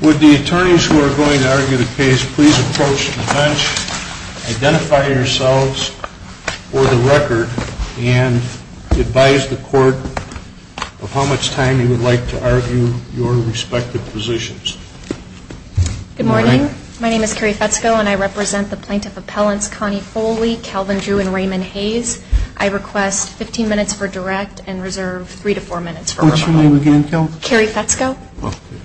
Would the attorneys who are going to argue the case please approach the bench, identify yourselves for the record, and advise the court of how much time you would like to argue your respective positions. Good morning. My name is Carrie Fetzko and I represent the plaintiff appellants Connie Foley, Calvin Drew, and Raymond Hayes. I request 15 minutes for direct and reserve 3 to 4 minutes for rebuttal. What's your name again? Carrie Fetzko.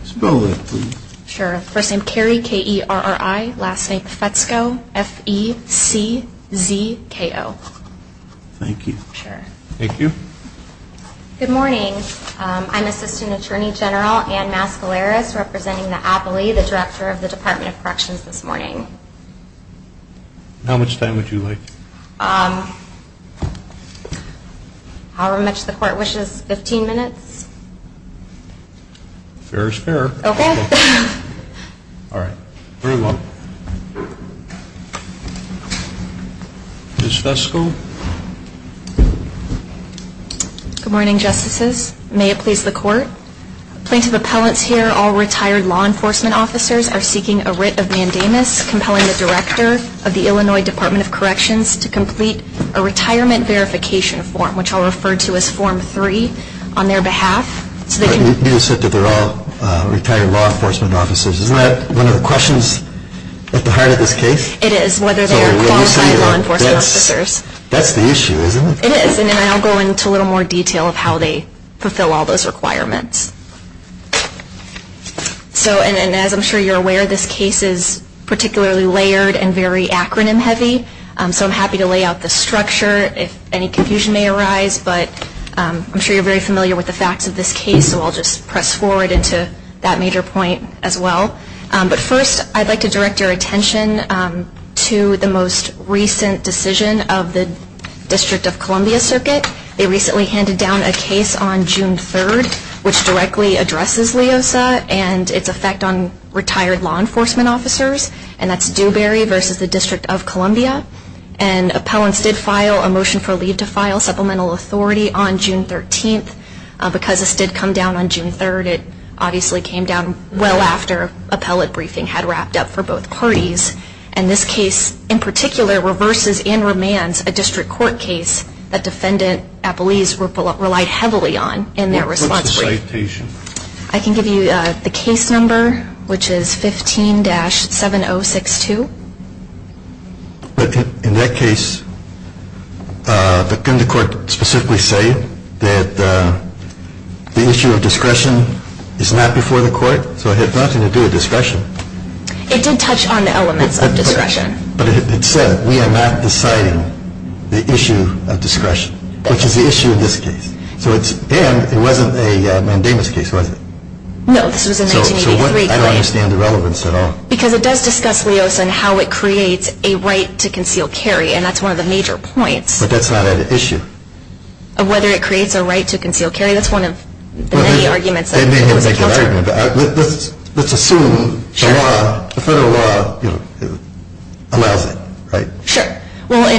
Spell that please. Sure. First name Carrie, K-E-R-R-I. Last name Fetzko, F-E-C-Z-K-O. Thank you. Thank you. Good morning. I'm Assistant Attorney General Ann Mascaleras representing the appellee, the director of the Department of Corrections this morning. How much time would you like? However much the court wishes, 15 minutes. Fair is fair. Okay. Alright. Very well. Ms. Fetzko. Good morning, Justices. May it please the court? Plaintiff appellants here, all retired law enforcement officers, are seeking a writ of mandamus compelling the director of the Illinois Department of Corrections to complete a retirement verification form, which I'll refer to as Form 3, on their behalf. You said that they're all retired law enforcement officers. Isn't that one of the questions at the heart of this case? It is, whether they are qualified law enforcement officers. That's the issue, isn't it? It is, and I'll go into a little more detail of how they fulfill all those requirements. So, and as I'm sure you're aware, this case is particularly layered and very acronym heavy, so I'm happy to lay out the structure if any confusion may arise, but I'm sure you're very familiar with the facts of this case, so I'll just press forward into that major point as well. But first, I'd like to direct your attention to the most recent decision of the District of Columbia circuit. They recently handed down a case on June 3rd, which directly addresses LEOSA and its effect on retired law enforcement officers, and that's Dewberry versus the District of Columbia. And appellants did file a motion for leave to file supplemental authority on June 13th. Because this did come down on June 3rd, it obviously came down well after appellate briefing had wrapped up for both parties. And this case, in particular, reverses and remands a district court case that defendant appellees relied heavily on in their response brief. What's the citation? I can give you the case number, which is 15-7062. But in that case, couldn't the court specifically say that the issue of discretion is not before the court? So it had nothing to do with discretion. It did touch on the elements of discretion. But it said we are not deciding the issue of discretion, which is the issue in this case. And it wasn't a mandamus case, was it? No, this was a 1983 claim. So I don't understand the relevance at all. Because it does discuss LEOSA and how it creates a right to conceal carry, and that's one of the major points. But that's not an issue. Of whether it creates a right to conceal carry? That's one of the many arguments. Let's assume the federal law allows it, right? Sure. Well,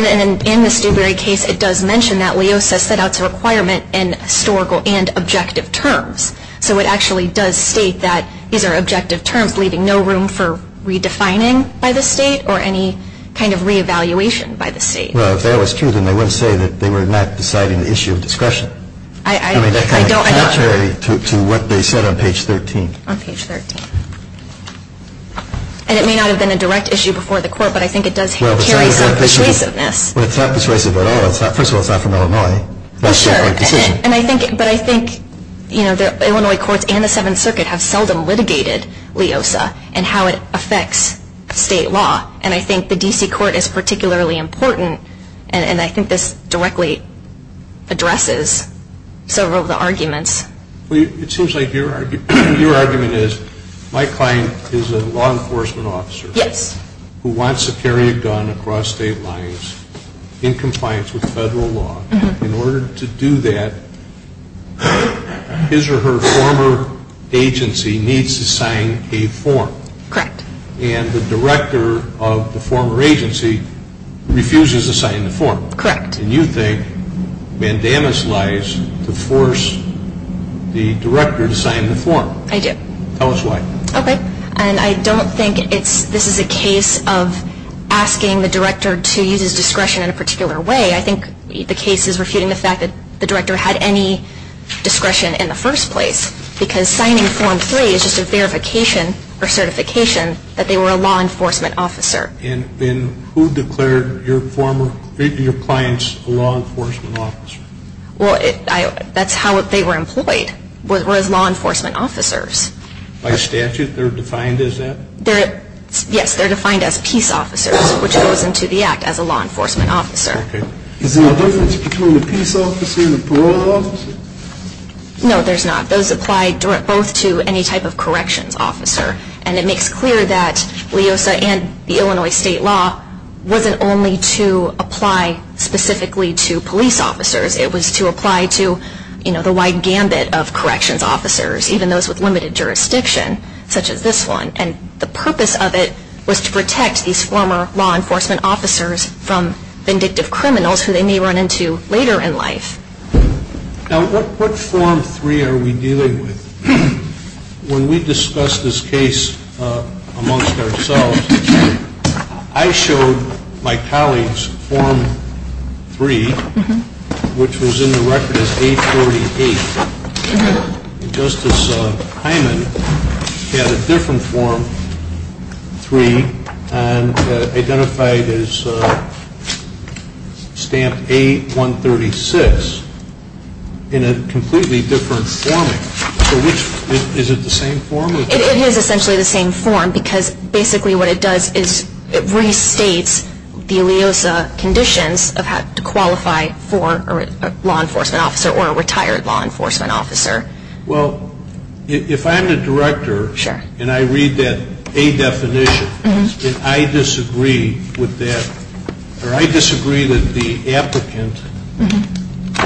in the Stewberry case, it does mention that LEOSA set out a requirement in historical and objective terms. So it actually does state that these are objective terms, leaving no room for redefining by the state or any kind of re-evaluation by the state. Well, if that was true, then they wouldn't say that they were not deciding the issue of discretion. I mean, that kind of can't carry to what they said on page 13. On page 13. And it may not have been a direct issue before the court, but I think it does carry some persuasiveness. Well, it's not persuasive at all. First of all, it's not from Illinois. Well, sure. But I think, you know, the Illinois courts and the Seventh Circuit have seldom litigated LEOSA and how it affects state law. And I think the D.C. court is particularly important, and I think this directly addresses several of the arguments. Well, it seems like your argument is my client is a law enforcement officer. Yes. Who wants to carry a gun across state lines in compliance with federal law. In order to do that, his or her former agency needs to sign a form. Correct. And the director of the former agency refuses to sign the form. Correct. And you think mandamus lies to force the director to sign the form. I do. Tell us why. Okay. And I don't think this is a case of asking the director to use his discretion in a particular way. I think the case is refuting the fact that the director had any discretion in the first place, because signing form 3 is just a verification or certification that they were a law enforcement officer. And who declared your clients a law enforcement officer? Well, that's how they were employed, was law enforcement officers. By statute, they're defined as that? Yes, they're defined as peace officers, which goes into the act as a law enforcement officer. Okay. Is there a difference between a peace officer and a parole officer? No, there's not. Those apply both to any type of corrections officer. And it makes clear that LEOSA and the Illinois state law wasn't only to apply specifically to police officers. It was to apply to, you know, the wide gambit of corrections officers, even those with limited jurisdiction, such as this one. And the purpose of it was to protect these former law enforcement officers from vindictive criminals who they may run into later in life. Now, what form 3 are we dealing with? When we discussed this case amongst ourselves, I showed my colleagues form 3, which was in the record as A48. And Justice Hyman had a different form 3 and identified as stamp A136 in a completely different forming. So is it the same form? It is essentially the same form because basically what it does is it restates the LEOSA conditions of how to qualify for a law enforcement officer or a retired law enforcement officer. Well, if I'm the director and I read that A definition and I disagree with that, or I disagree that the applicant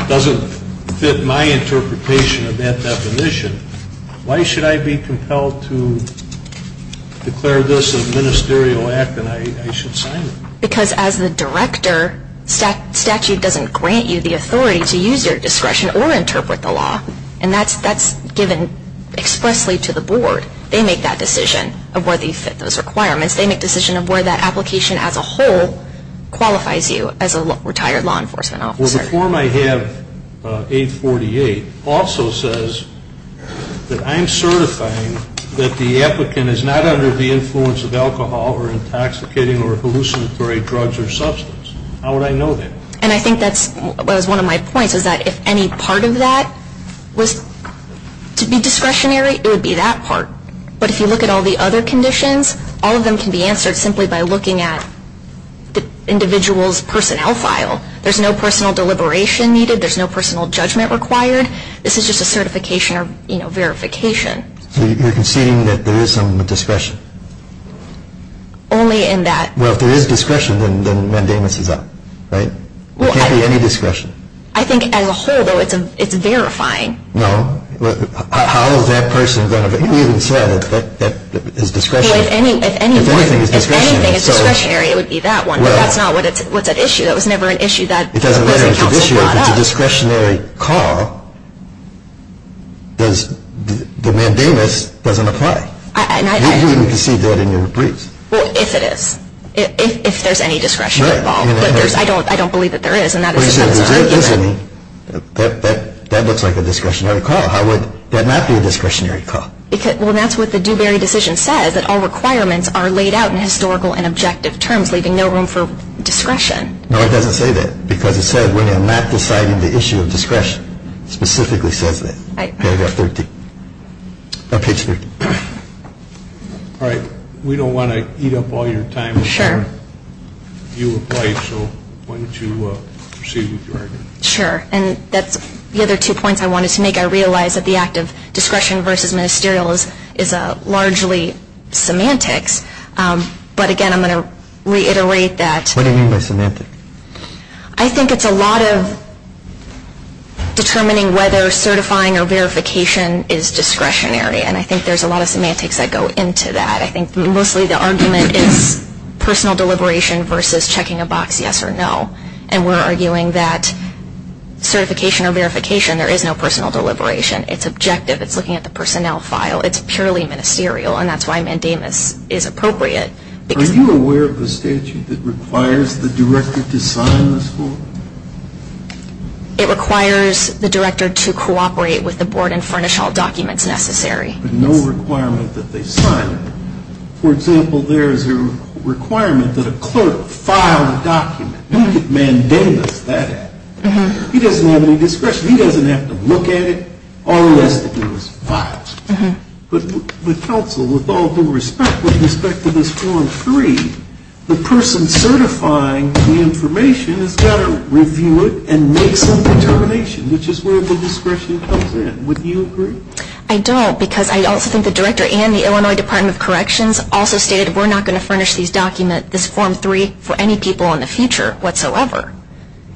doesn't fit my interpretation of that definition, why should I be compelled to declare this a ministerial act and I should sign it? Because as the director, statute doesn't grant you the authority to use your discretion or interpret the law. And that's given expressly to the board. They make that decision of where they fit those requirements. They make the decision of where that application as a whole qualifies you as a retired law enforcement officer. Well, the form I have, A48, also says that I'm certifying that the applicant is not under the influence of alcohol or intoxicating or hallucinatory drugs or substance. How would I know that? And I think that's one of my points is that if any part of that was to be discretionary, it would be that part. But if you look at all the other conditions, all of them can be answered simply by looking at the individual's personnel file. There's no personal deliberation needed. There's no personal judgment required. This is just a certification or, you know, verification. So you're conceding that there is some discretion? Only in that. Well, if there is discretion, then mandamus is up, right? There can't be any discretion. I think as a whole, though, it's verifying. No. How is that person going to be? You even said that is discretionary. Well, if anything is discretionary, it would be that one. But that's not what's at issue. That was never an issue that was in counsel brought up. It doesn't matter if it's an issue. If it's a discretionary call, the mandamus doesn't apply. You even conceded that in your briefs. Well, if it is. If there's any discretion involved. But I don't believe that there is, and that is a concern. But you said there is any. That looks like a discretionary call. How would that not be a discretionary call? Well, that's what the Dewberry decision says, that all requirements are laid out in historical and objective terms, leaving no room for discretion. No, it doesn't say that. Because it said when I'm not deciding the issue of discretion, it specifically says that, paragraph 13. Or page 13. All right. We don't want to eat up all your time. Sure. You applied, so why don't you proceed with your argument. Sure. And that's the other two points I wanted to make. I realize that the act of discretion versus ministerial is largely semantics. But, again, I'm going to reiterate that. What do you mean by semantics? I think it's a lot of determining whether certifying or verification is discretionary. And I think there's a lot of semantics that go into that. I think mostly the argument is personal deliberation versus checking a box yes or no. And we're arguing that certification or verification, there is no personal deliberation. It's objective. It's looking at the personnel file. It's purely ministerial. And that's why mandamus is appropriate. Are you aware of the statute that requires the director to sign the school? It requires the director to cooperate with the board and furnish all documents necessary. No requirement that they sign. For example, there is a requirement that a clerk file a document. Look at mandamus, that act. He doesn't have any discretion. He doesn't have to look at it or list those files. But counsel, with all due respect, with respect to this form 3, the person certifying the information has got to review it and make some determination, which is where the discretion comes in. Would you agree? I don't because I also think the director and the Illinois Department of Corrections also stated we're not going to furnish this document, this form 3, for any people in the future whatsoever.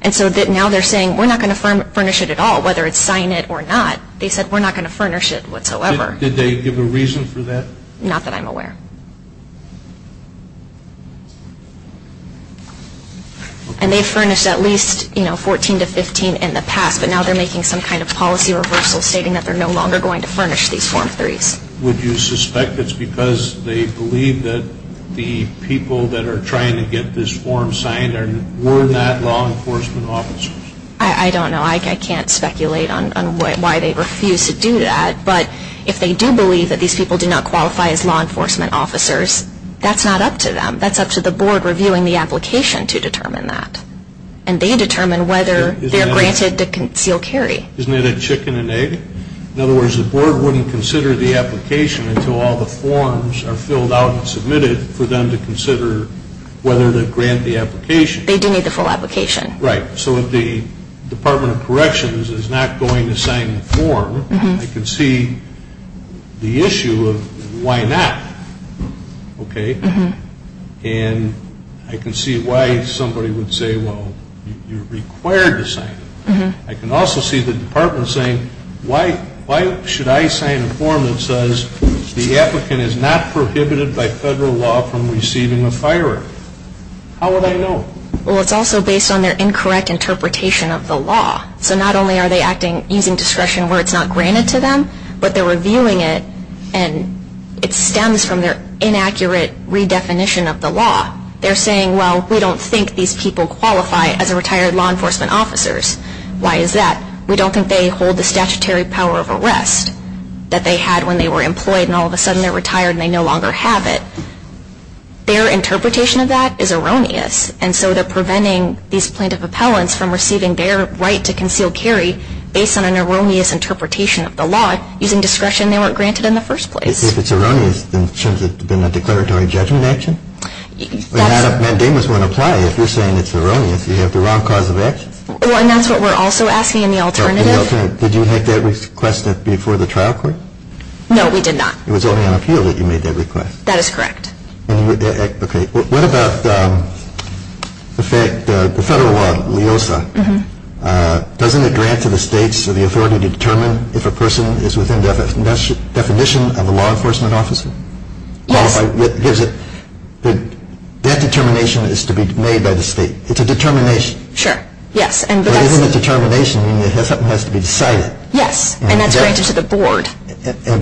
And so now they're saying we're not going to furnish it at all, whether it's sign it or not. They said we're not going to furnish it whatsoever. Did they give a reason for that? Not that I'm aware. And they furnished at least, you know, 14 to 15 in the past, but now they're making some kind of policy reversal, stating that they're no longer going to furnish these form 3s. Would you suspect it's because they believe that the people that are trying to get this form signed were not law enforcement officers? I don't know. I can't speculate on why they refuse to do that. But if they do believe that these people do not qualify as law enforcement officers, that's not up to them. That's up to the board reviewing the application to determine that. And they determine whether they're granted the concealed carry. Isn't it a chicken and egg? In other words, the board wouldn't consider the application until all the forms are filled out and submitted for them to consider whether to grant the application. They do need the full application. Right. So if the Department of Corrections is not going to sign the form, I can see the issue of why not, okay? And I can see why somebody would say, well, you're required to sign it. I can also see the department saying, why should I sign a form that says the applicant is not prohibited by federal law from receiving a firearm? How would I know? Well, it's also based on their incorrect interpretation of the law. So not only are they acting using discretion where it's not granted to them, but they're reviewing it and it stems from their inaccurate redefinition of the law. They're saying, well, we don't think these people qualify as retired law enforcement officers. Why is that? We don't think they hold the statutory power of arrest that they had when they were employed and all of a sudden they're retired and they no longer have it. Their interpretation of that is erroneous, and so they're preventing these plaintiff appellants from receiving their right to concealed carry based on an erroneous interpretation of the law using discretion they weren't granted in the first place. If it's erroneous, then shouldn't it have been a declaratory judgment action? Mandamus won't apply if you're saying it's erroneous. You have the wrong cause of action. And that's what we're also asking in the alternative. Did you make that request before the trial court? No, we did not. It was only on appeal that you made that request. That is correct. What about the federal law, LEOSA? Doesn't it grant to the states the authority to determine if a person is within definition of a law enforcement officer? Yes. That determination is to be made by the state. It's a determination. Sure, yes. But isn't a determination when something has to be decided? Yes, and that's granted to the board.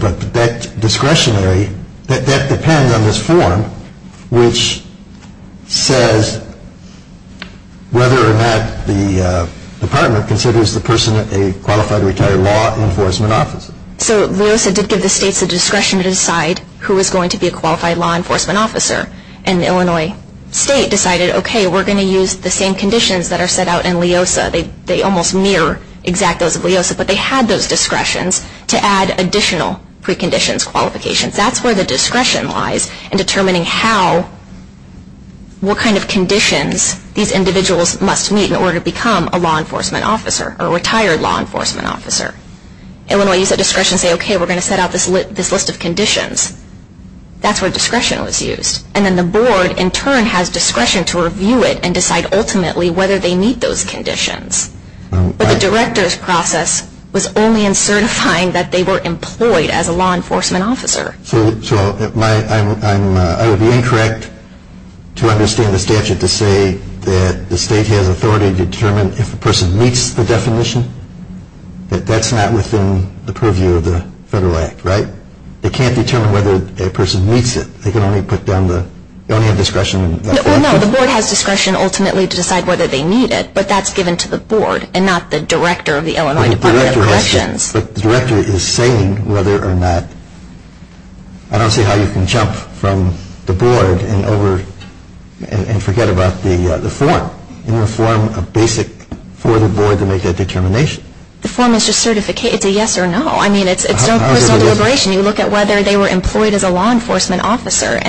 But that discretionary, that depends on this form, which says whether or not the department considers the person a qualified retired law enforcement officer. So LEOSA did give the states the discretion to decide who was going to be a qualified law enforcement officer. And the Illinois state decided, okay, we're going to use the same conditions that are set out in LEOSA. They almost mirror exactly those of LEOSA, but they had those discretions to add additional preconditions, qualifications. That's where the discretion lies in determining how, what kind of conditions these individuals must meet in order to become a law enforcement officer, or a retired law enforcement officer. Illinois used that discretion to say, okay, we're going to set out this list of conditions. That's where discretion was used. And then the board, in turn, has discretion to review it and decide ultimately whether they meet those conditions. But the director's process was only in certifying that they were employed as a law enforcement officer. So I would be incorrect to understand the statute to say that the state has authority to determine if a person meets the definition, but that's not within the purview of the Federal Act, right? They can't determine whether a person meets it. They can only put down the, they only have discretion. Well, no, the board has discretion ultimately to decide whether they meet it, but that's given to the board and not the director of the Illinois Department of Corrections. But the director is saying whether or not, I don't see how you can jump from the board and forget about the form. Isn't the form a basic for the board to make that determination? The form is just a yes or no. I mean, it's no personal deliberation. You look at whether they were employed as a law enforcement officer. Right,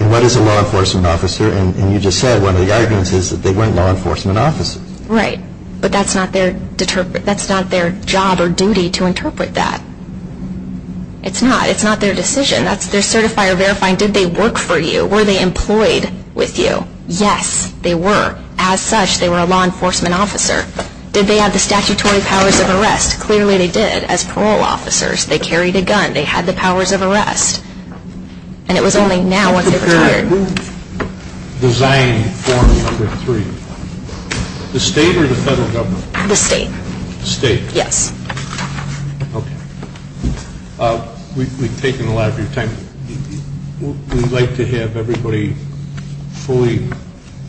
and what is a law enforcement officer? And you just said one of the arguments is that they weren't law enforcement officers. Right. But that's not their job or duty to interpret that. It's not. It's not their decision. That's their certifier verifying, did they work for you? Were they employed with you? Yes, they were. As such, they were a law enforcement officer. Did they have the statutory powers of arrest? Clearly, they did. As parole officers, they carried a gun. They had the powers of arrest. And it was only now once they retired. Who designed form number three? The state or the federal government? The state. The state. Yes. Okay. We've taken a lot of your time. We'd like to have everybody fully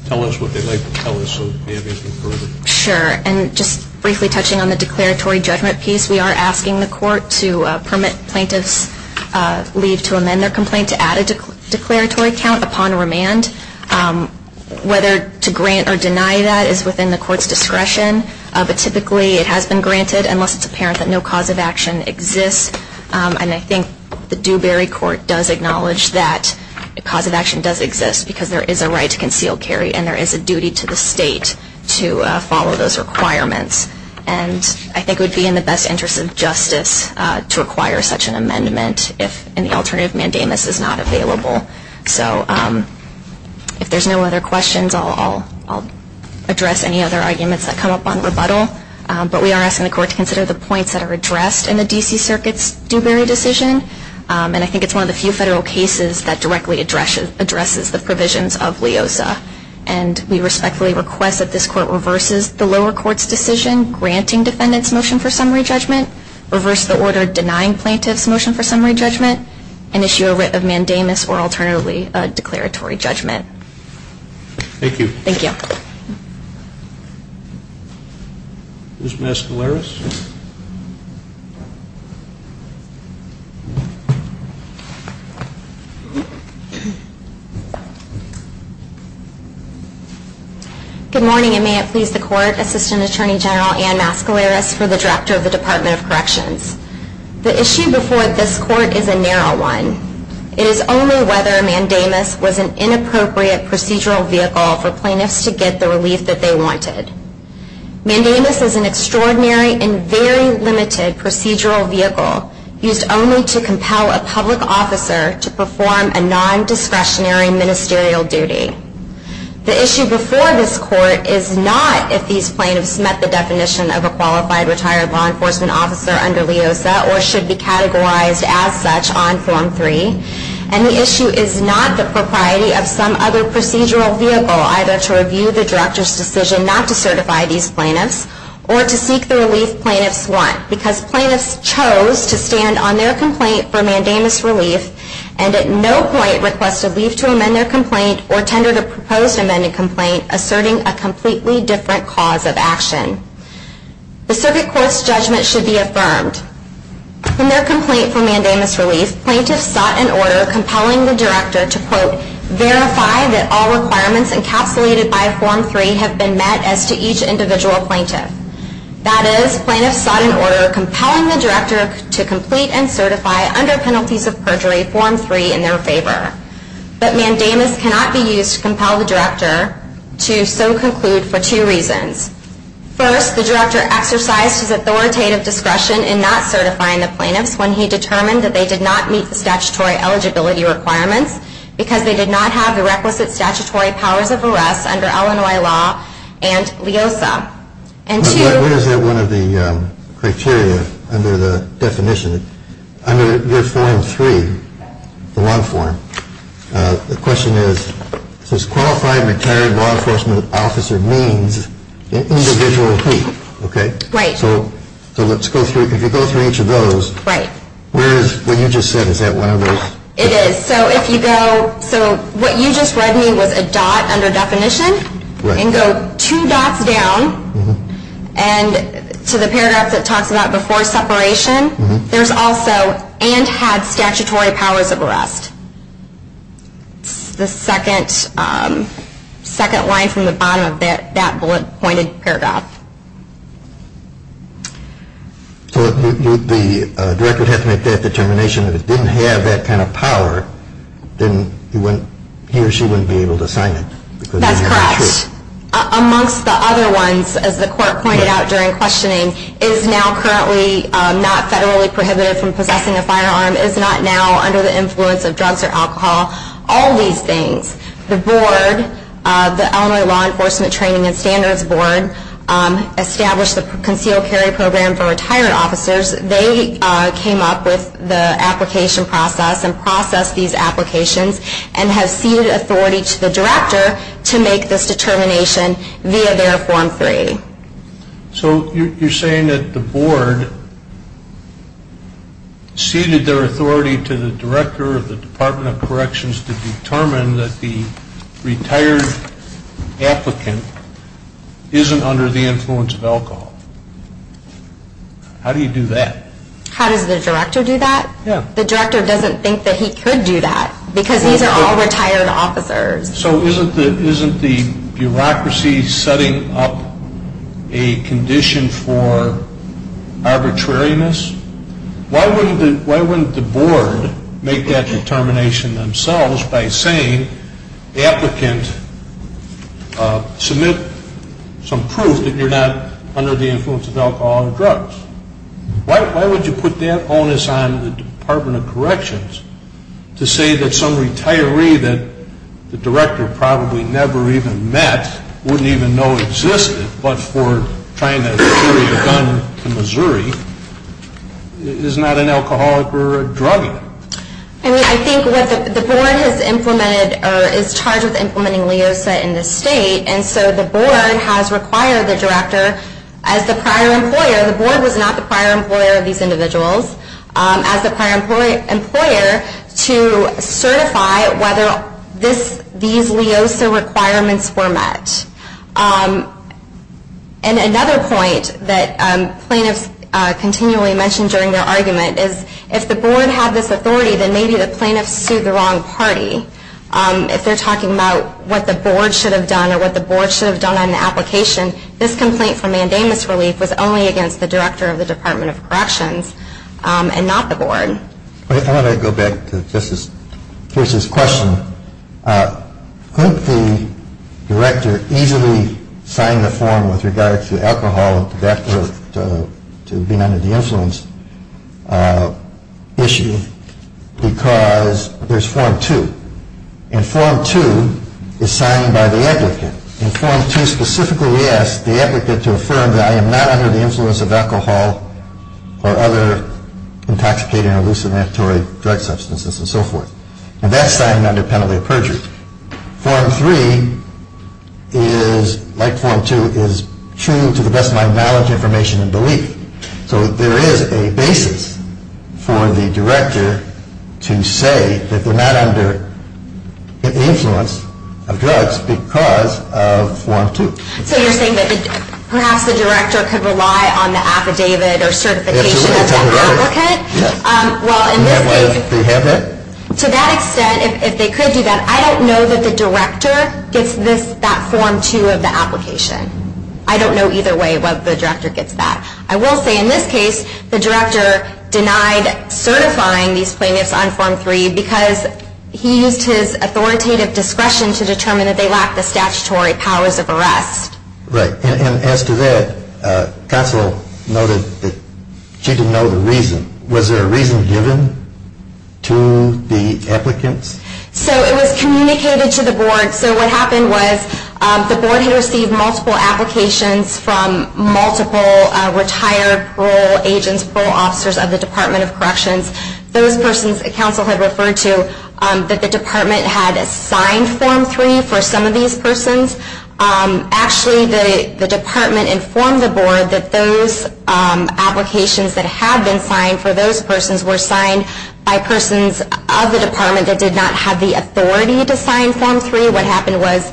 tell us what they'd like to tell us so we can go further. Sure, and just briefly touching on the declaratory judgment piece, we are asking the court to permit plaintiffs' leave to amend their complaint to add a declaratory count upon remand. Whether to grant or deny that is within the court's discretion, but typically it has been granted unless it's apparent that no cause of action exists. And I think the Dewberry Court does acknowledge that a cause of action does exist because there is a right to concealed carry and there is a duty to the state to follow those requirements. And I think it would be in the best interest of justice to require such an amendment if an alternative mandamus is not available. So if there's no other questions, I'll address any other arguments that come up on rebuttal. But we are asking the court to consider the points that are addressed in the D.C. Circuit's Dewberry decision. And I think it's one of the few federal cases that directly addresses the provisions of LIOSA. And we respectfully request that this court reverses the lower court's decision granting defendants' motion for summary judgment, reverse the order denying plaintiffs' motion for summary judgment, and issue a writ of mandamus or alternatively a declaratory judgment. Thank you. Thank you. Ms. Mascaleras. Good morning, and may it please the court, Assistant Attorney General Ann Mascaleras for the drafter of the Department of Corrections. The issue before this court is a narrow one. It is only whether a mandamus was an inappropriate procedural vehicle for plaintiffs to get the relief that they wanted. Mandamus is an extraordinary and very limited procedural vehicle used only to compel a public officer to perform a nondiscretionary ministerial duty. The issue before this court is not if these plaintiffs met the definition of a qualified retired law enforcement officer under LIOSA or should be categorized as such on Form 3. And the issue is not the propriety of some other procedural vehicle, either to review the drafter's decision not to certify these plaintiffs or to seek the relief plaintiffs want, because plaintiffs chose to stand on their complaint for mandamus relief and at no point request relief to amend their complaint or tender the proposed amended complaint asserting a completely different cause of action. The circuit court's judgment should be affirmed. In their complaint for mandamus relief, plaintiffs sought an order compelling the drafter to, quote, verify that all requirements encapsulated by Form 3 have been met as to each individual plaintiff. That is, plaintiffs sought an order compelling the drafter to complete and certify, under penalties of perjury, Form 3 in their favor. But mandamus cannot be used to compel the drafter to so conclude for two reasons. First, the drafter exercised his authoritative discretion in not certifying the plaintiffs when he determined that they did not meet the statutory eligibility requirements because they did not have the requisite statutory powers of arrest under Illinois law and LIOSA. And two... But what is that one of the criteria under the definition, under your Form 3, the law form? The question is, does qualified retired law enforcement officer means an individual plea? Okay? Right. So let's go through, if you go through each of those... Right. Where is, what you just said, is that one of those? It is. So if you go, so what you just read me was a dot under definition. Right. And go two dots down and to the paragraph that talks about before separation, there's also, and had statutory powers of arrest. It's the second line from the bottom of that bullet-pointed paragraph. So the drafter would have to make that determination. If it didn't have that kind of power, then he or she wouldn't be able to sign it. That's correct. Amongst the other ones, as the court pointed out during questioning, is now currently not federally prohibited from possessing a firearm, is not now under the influence of drugs or alcohol. All these things. The board, the Illinois Law Enforcement Training and Standards Board, established the concealed carry program for retired officers. They came up with the application process and processed these applications and have ceded authority to the drafter to make this determination via their form 3. So you're saying that the board ceded their authority to the director of the Department of Corrections to determine that the retired applicant isn't under the influence of alcohol. How do you do that? How does the drafter do that? Yeah. The drafter doesn't think that he could do that because these are all retired officers. So isn't the bureaucracy setting up a condition for arbitrariness? Why wouldn't the board make that determination themselves by saying, applicant, submit some proof that you're not under the influence of alcohol or drugs? Why would you put that onus on the Department of Corrections to say that some retiree that the director probably never even met, wouldn't even know existed, but for trying to carry a gun to Missouri, is not an alcoholic or a druggie? I mean, I think what the board has implemented or is charged with implementing in this state, and so the board has required the drafter, as the prior employer, the board was not the prior employer of these individuals, as the prior employer, to certify whether these LEOSA requirements were met. And another point that plaintiffs continually mention during their argument is, if the board had this authority, then maybe the plaintiffs sued the wrong party. If they're talking about what the board should have done or what the board should have done on the application, this complaint for mandamus relief was only against the director of the Department of Corrections and not the board. Why don't I go back to Chris's question. Couldn't the director easily sign the form with regard to alcohol and tobacco to being under the influence issue because there's Form 2. And Form 2 is signed by the applicant. In Form 2 specifically we ask the applicant to affirm that I am not under the influence of alcohol or other intoxicating or hallucinatory drug substances and so forth. And that's signed under penalty of perjury. Form 3 is, like Form 2, is true to the best of my knowledge, information, and belief. So there is a basis for the director to say that they're not under the influence of drugs because of Form 2. So you're saying that perhaps the director could rely on the affidavit or certification of the applicant? Absolutely. Yes. And that way they have that? To that extent, if they could do that, I don't know that the director gets that Form 2 of the application. I don't know either way whether the director gets that. I will say in this case the director denied certifying these plaintiffs on Form 3 because he used his authoritative discretion to determine that they lack the statutory powers of arrest. Right. And as to that, counsel noted that she didn't know the reason. Was there a reason given to the applicants? So it was communicated to the board. So what happened was the board had received multiple applications from multiple retired parole agents, parole officers of the Department of Corrections. Those persons counsel had referred to that the department had signed Form 3 for some of these persons. Actually, the department informed the board that those applications that had been signed for those persons were signed by persons of the department that did not have the authority to sign Form 3. What happened was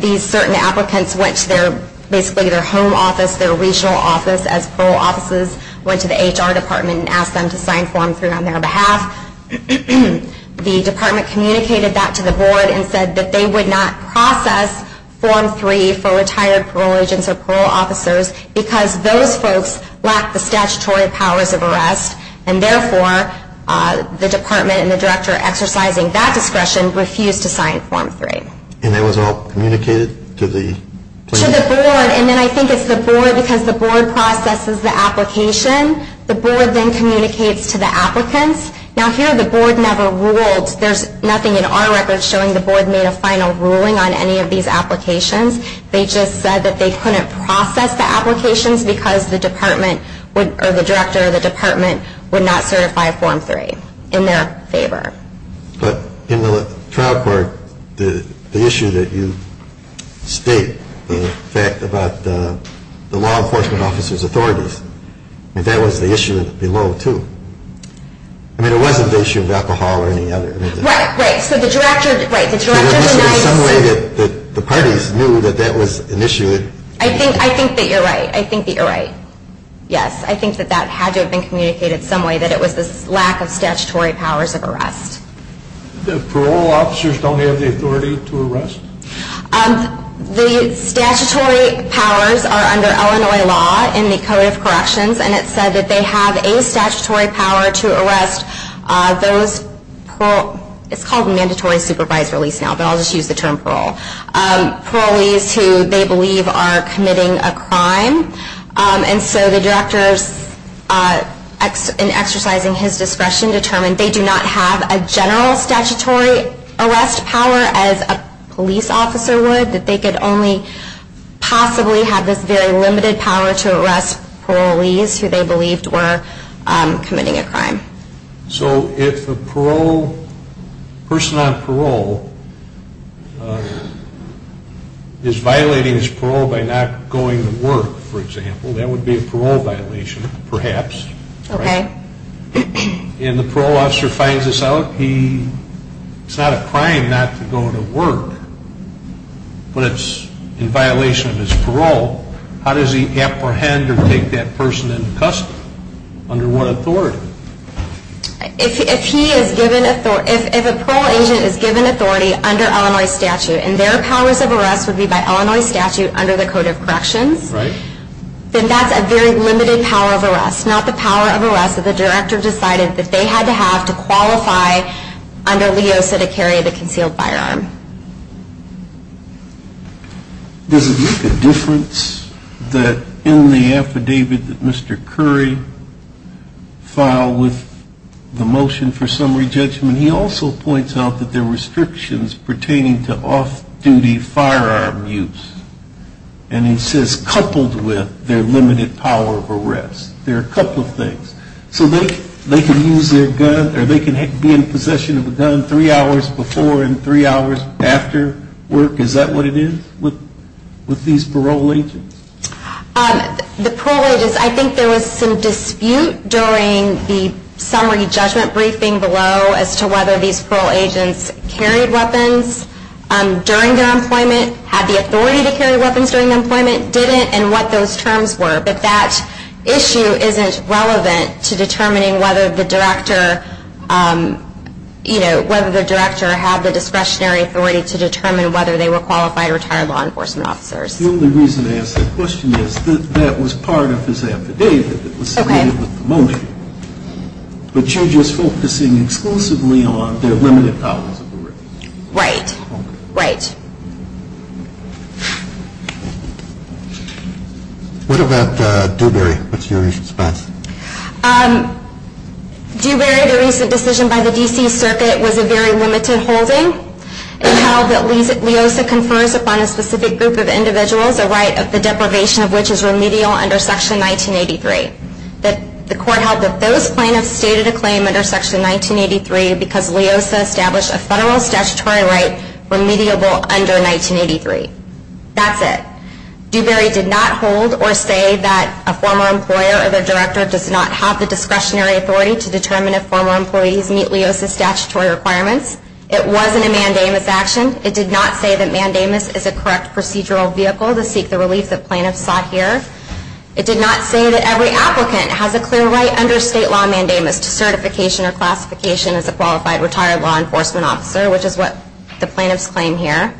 these certain applicants went to basically their home office, their regional office, as parole officers went to the HR department and asked them to sign Form 3 on their behalf. The department communicated that to the board and said that they would not process Form 3 for retired parole agents or parole officers because those folks lack the statutory powers of arrest, and therefore the department and the director exercising that discretion refused to sign Form 3. And that was all communicated to the plaintiffs? To the board, and then I think it's the board because the board processes the application. The board then communicates to the applicants. Now, here the board never ruled. There's nothing in our records showing the board made a final ruling on any of these applications. They just said that they couldn't process the applications because the department or the director of the department would not certify Form 3 in their favor. But in the trial court, the issue that you state, the fact about the law enforcement officers' authorities, that was the issue below, too. I mean, it wasn't the issue of alcohol or any other. Right, right. So the director denies. There was some way that the parties knew that that was an issue. I think that you're right. I think that you're right. Yes, I think that that had to have been communicated some way, that it was the lack of statutory powers of arrest. The parole officers don't have the authority to arrest? The statutory powers are under Illinois law in the Code of Corrections, and it said that they have a statutory power to arrest those parole – it's called mandatory supervisory release now, but I'll just use the term parole – parolees who they believe are committing a crime. And so the directors, in exercising his discretion, determined they do not have a general statutory arrest power as a police officer would, that they could only possibly have this very limited power to arrest parolees So if a parole – person on parole is violating his parole by not going to work, for example, that would be a parole violation, perhaps, right? Okay. And the parole officer finds this out, he – it's not a crime not to go to work, but it's in violation of his parole, how does he apprehend or take that person into custody? Under what authority? If he is given – if a parole agent is given authority under Illinois statute, and their powers of arrest would be by Illinois statute under the Code of Corrections, then that's a very limited power of arrest, not the power of arrest that the director decided that they had to have to qualify under LEOSA to carry the concealed firearm. Does it make a difference that in the affidavit that Mr. Curry filed with the motion for summary judgment, he also points out that there were restrictions pertaining to off-duty firearm use, and he says coupled with their limited power of arrest. There are a couple of things. So they can use their gun, or they can be in possession of a gun three hours before and three hours after work. Is that what it is with these parole agents? The parole agents, I think there was some dispute during the summary judgment briefing below as to whether these parole agents carried weapons during their employment, had the authority to carry weapons during their employment, didn't, and what those terms were. But that issue isn't relevant to determining whether the director, you know, whether the director had the discretionary authority to determine whether they were qualified retired law enforcement officers. The only reason I ask that question is that that was part of his affidavit that was submitted with the motion. But you're just focusing exclusively on their limited powers of arrest. Right, right. What about Dewberry? What's your response? Dewberry, the recent decision by the D.C. Circuit was a very limited holding. It held that Leosa confers upon a specific group of individuals a right of the deprivation of which is remedial under Section 1983. The court held that those plaintiffs stated a claim under Section 1983 because Leosa established a federal statutory right remediable under 1983. That's it. Dewberry did not hold or say that a former employer or their director does not have the discretionary authority to determine if former employees meet Leosa's statutory requirements. It wasn't a mandamus action. It did not say that mandamus is a correct procedural vehicle to seek the relief that plaintiffs sought here. It did not say that every applicant has a clear right under state law mandamus to certification or classification as a qualified retired law enforcement officer, which is what the plaintiffs claim here.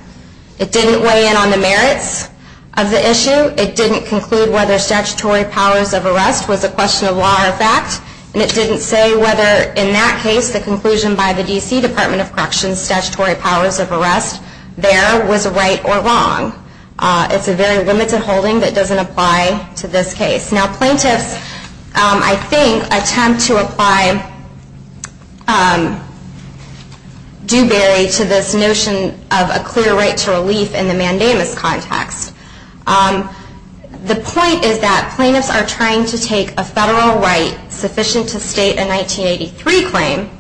It didn't weigh in on the merits of the issue. It didn't conclude whether statutory powers of arrest was a question of law or fact, and it didn't say whether in that case the conclusion by the D.C. Department of Corrections statutory powers of arrest there was right or wrong. It's a very limited holding that doesn't apply to this case. Now, plaintiffs, I think, attempt to apply Dewberry to this notion of a clear right to relief in the mandamus context. The point is that plaintiffs are trying to take a federal right sufficient to state a 1983 claim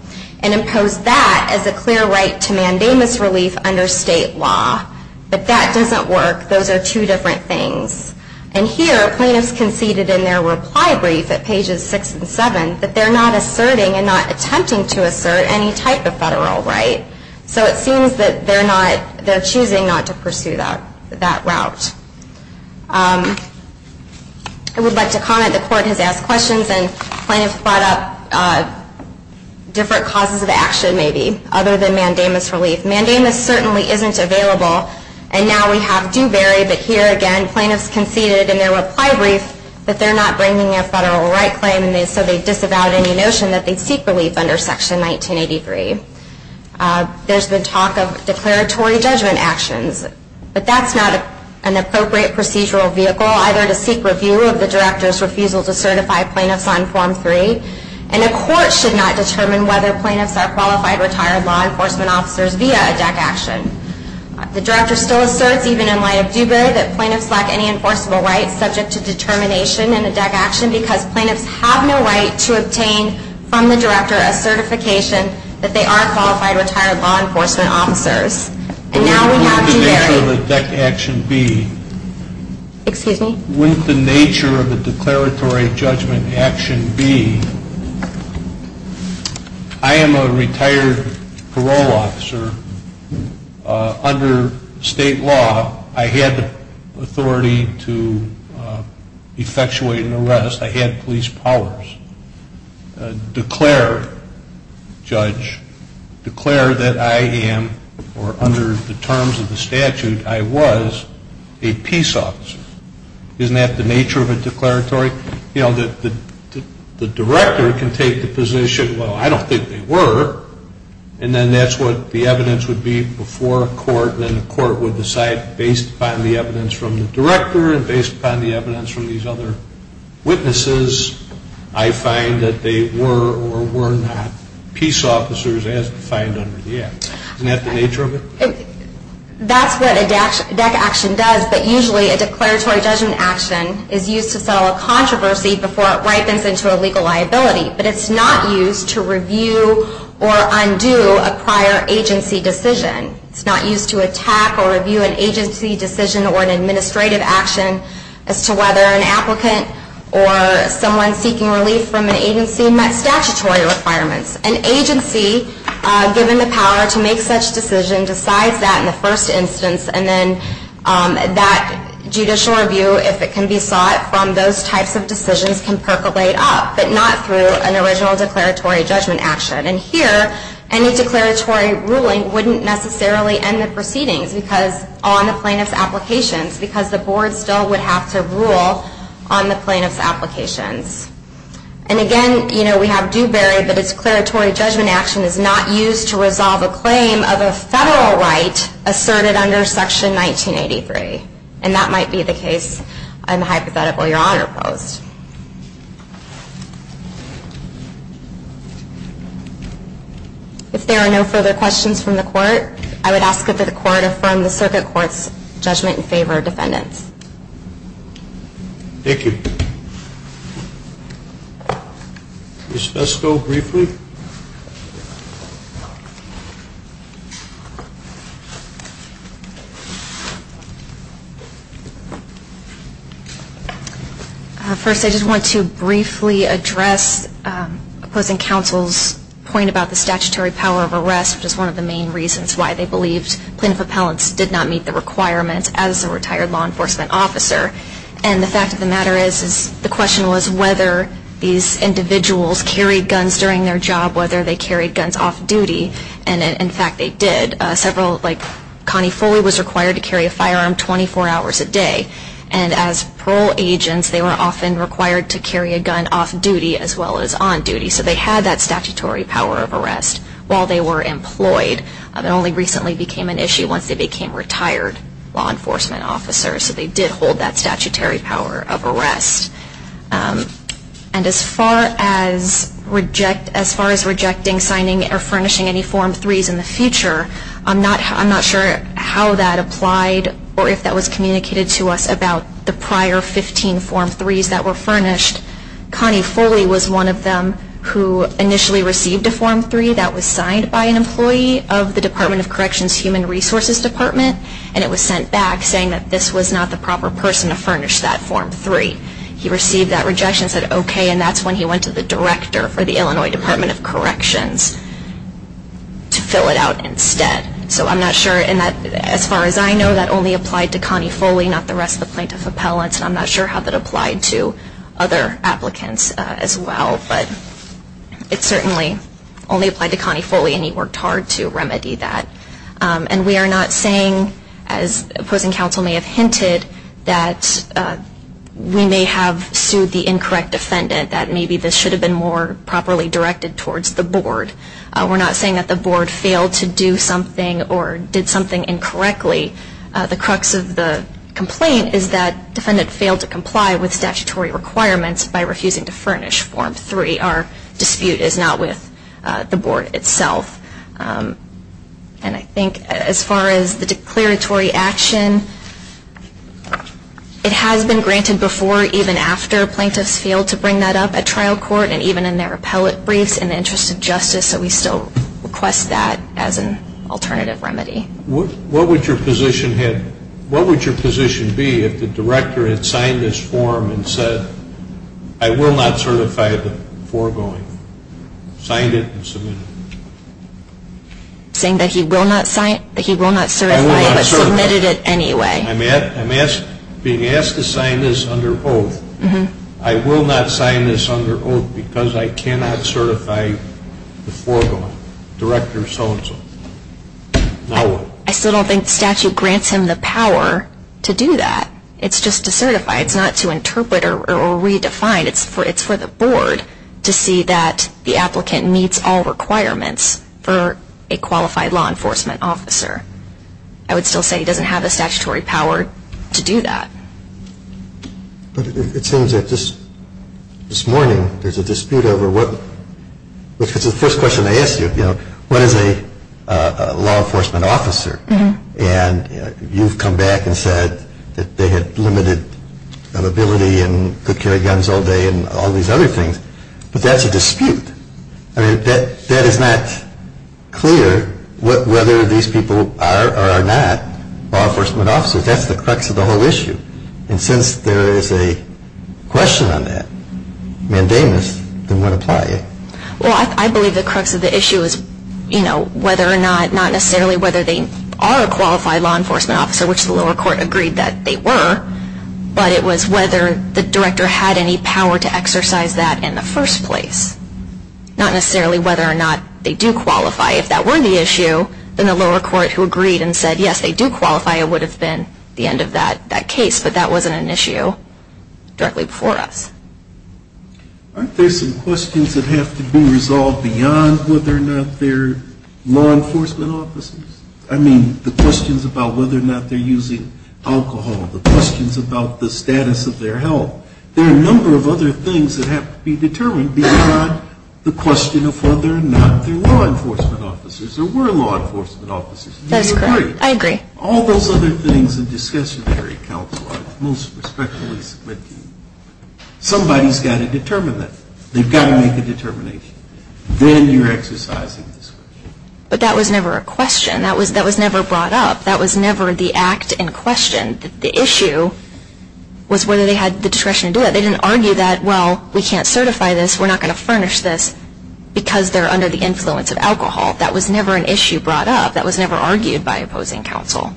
and impose that as a clear right to mandamus relief under state law. But that doesn't work. Those are two different things. And here, plaintiffs conceded in their reply brief at pages 6 and 7 that they're not asserting and not attempting to assert any type of federal right. So it seems that they're choosing not to pursue that route. I would like to comment the Court has asked questions, and plaintiffs brought up different causes of action, maybe, other than mandamus relief. Mandamus certainly isn't available. And now we have Dewberry, but here, again, plaintiffs conceded in their reply brief that they're not bringing a federal right claim, and so they disavowed any notion that they seek relief under Section 1983. There's been talk of declaratory judgment actions, but that's not an appropriate procedural vehicle, either to seek review of the director's refusal to certify plaintiffs on Form 3, and a court should not determine whether plaintiffs are qualified retired law enforcement officers via a DEC action. The director still asserts, even in light of Dewberry, that plaintiffs lack any enforceable rights subject to determination in a DEC action because plaintiffs have no right to obtain from the director a certification that they are qualified retired law enforcement officers. And now we have Dewberry. Wouldn't the nature of a DEC action be? Excuse me? Wouldn't the nature of a declaratory judgment action be, I am a retired parole officer. Under state law, I had authority to effectuate an arrest. I had police powers. Declare, judge, declare that I am, or under the terms of the statute, I was a peace officer. Isn't that the nature of a declaratory? You know, the director can take the position, well, I don't think they were, and then that's what the evidence would be before a court, and then the court would decide based upon the evidence from the director and based upon the evidence from these other witnesses, I find that they were or were not peace officers as defined under the act. Isn't that the nature of it? That's what a DEC action does, but usually a declaratory judgment action is used to settle a controversy before it ripens into a legal liability, but it's not used to review or undo a prior agency decision. It's not used to attack or review an agency decision or an administrative action as to whether an applicant or someone seeking relief from an agency met statutory requirements. An agency, given the power to make such a decision, decides that in the first instance, and then that judicial review, if it can be sought from those types of decisions, can percolate up, but not through an original declaratory judgment action. And here, any declaratory ruling wouldn't necessarily end the proceedings on the plaintiff's applications, because the board still would have to rule on the plaintiff's applications. And again, we have Dewberry, but its declaratory judgment action is not used to resolve a claim of a federal right asserted under Section 1983, and that might be the case I'm hypothetical Your Honor posed. If there are no further questions from the court, I would ask that the court affirm the circuit court's judgment in favor of defendants. Thank you. Ms. Pesco, briefly. First, I just want to briefly address opposing counsel's point about the statutory power of arrest, which is one of the main reasons why they believed plaintiff appellants did not meet the requirements as a retired law enforcement officer. And the fact of the matter is the question was whether these individuals carried guns during their job, whether they carried guns off-duty, and in fact they did. Connie Foley was required to carry a firearm 24 hours a day, and as parole agents they were often required to carry a gun off-duty as well as on-duty, so they had that statutory power of arrest while they were employed. It only recently became an issue once they became retired law enforcement officers, so they did hold that statutory power of arrest. And as far as rejecting, signing, or furnishing any Form 3s in the future, I'm not sure how that applied or if that was communicated to us about the prior 15 Form 3s that were furnished. Connie Foley was one of them who initially received a Form 3 that was signed by an employee of the Department of Corrections Human Resources Department, and it was sent back saying that this was not the proper person to furnish that Form 3. He received that rejection and said okay, and that's when he went to the director for the Illinois Department of Corrections to fill it out instead. So I'm not sure, and as far as I know that only applied to Connie Foley, not the rest of the plaintiff appellants, and I'm not sure how that applied to other applicants as well, but it certainly only applied to Connie Foley, and he worked hard to remedy that. And we are not saying, as opposing counsel may have hinted, that we may have sued the incorrect defendant, that maybe this should have been more properly directed towards the board. We're not saying that the board failed to do something or did something incorrectly. The crux of the complaint is that defendant failed to comply with statutory requirements by refusing to furnish Form 3. Our dispute is not with the board itself. And I think as far as the declaratory action, it has been granted before even after plaintiffs failed to bring that up at trial court and even in their appellate briefs in the interest of justice, so we still request that as an alternative remedy. What would your position be if the director had signed this form and said, I will not certify the foregoing, signed it, and submitted it? Saying that he will not sign it, that he will not certify it, but submitted it anyway. I'm being asked to sign this under oath. I will not sign this under oath because I cannot certify the foregoing, director so-and-so. Now what? I still don't think the statute grants him the power to do that. It's just to certify. It's not to interpret or redefine. It's for the board to see that the applicant meets all requirements for a qualified law enforcement officer. I would still say he doesn't have the statutory power to do that. It seems that this morning there's a dispute over what, which is the first question I ask you, you know, what is a law enforcement officer? And you've come back and said that they had limited ability and could carry guns all day and all these other things. But that's a dispute. I mean, that is not clear whether these people are or are not law enforcement officers. That's the crux of the whole issue. And since there is a question on that, mandamus, then what apply? Well, I believe the crux of the issue is, you know, whether or not, not necessarily whether they are a qualified law enforcement officer, which the lower court agreed that they were, but it was whether the director had any power to exercise that in the first place. Not necessarily whether or not they do qualify. If that were the issue, then the lower court who agreed and said, yes, they do qualify, it would have been the end of that case. But that wasn't an issue directly before us. Aren't there some questions that have to be resolved beyond whether or not they're law enforcement officers? I mean, the questions about whether or not they're using alcohol, the questions about the status of their health. There are a number of other things that have to be determined beyond the question of whether or not they're law enforcement officers or were law enforcement officers. Do you agree? I agree. All those other things that discussionary counsel are most respectfully submitting. Somebody's got to determine that. They've got to make a determination. Then you're exercising this question. But that was never a question. That was never brought up. That was never the act in question. The issue was whether they had the discretion to do that. They didn't argue that, well, we can't certify this, we're not going to furnish this, because they're under the influence of alcohol. That was never an issue brought up. That was never argued by opposing counsel.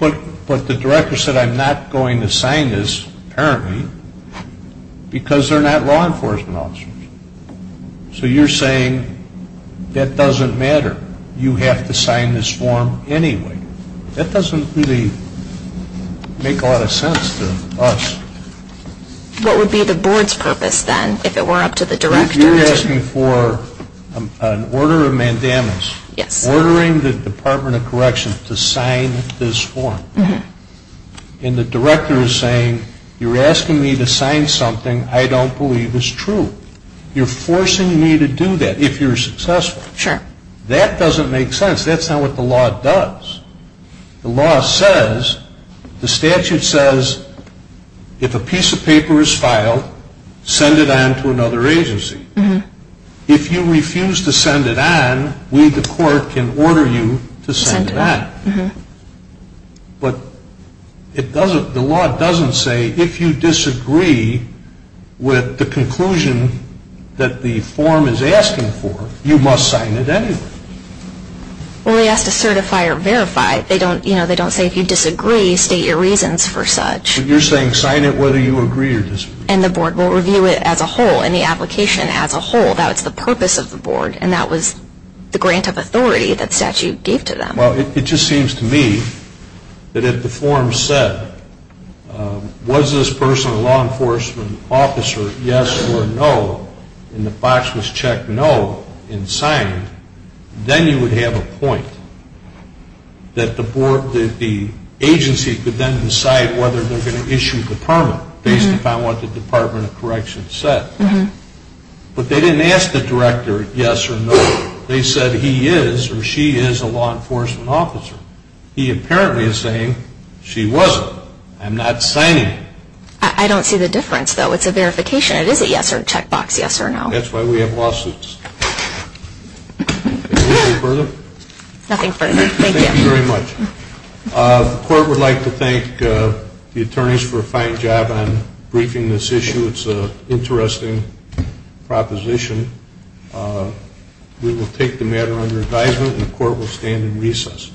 But the director said I'm not going to sign this, apparently, because they're not law enforcement officers. So you're saying that doesn't matter. You have to sign this form anyway. That doesn't really make a lot of sense to us. What would be the board's purpose, then, if it were up to the director? You're asking for an order of mandamus, ordering the Department of Corrections to sign this form. And the director is saying you're asking me to sign something I don't believe is true. You're forcing me to do that if you're successful. That doesn't make sense. That's not what the law does. The law says, the statute says, if a piece of paper is filed, send it on to another agency. If you refuse to send it on, we, the court, can order you to send it back. But the law doesn't say if you disagree with the conclusion that the form is asking for, you must sign it anyway. Well, they ask to certify or verify. They don't say if you disagree, state your reasons for such. But you're saying sign it whether you agree or disagree. And the board will review it as a whole, and the application as a whole. That's the purpose of the board, and that was the grant of authority that the statute gave to them. Well, it just seems to me that if the form said, was this person a law enforcement officer, yes or no, and the box was check no and signed, then you would have a point that the agency could then decide whether they're going to issue the permit, based upon what the Department of Correction said. But they didn't ask the director yes or no. They said he is or she is a law enforcement officer. He apparently is saying she wasn't. I'm not signing it. I don't see the difference, though. It's a verification. It is a yes or a check box, yes or no. That's why we have lawsuits. Anything further? Nothing further. Thank you. Thank you very much. The court would like to thank the attorneys for a fine job on briefing this issue. It's an interesting proposition. We will take the matter under advisement, and the court will stand in recess.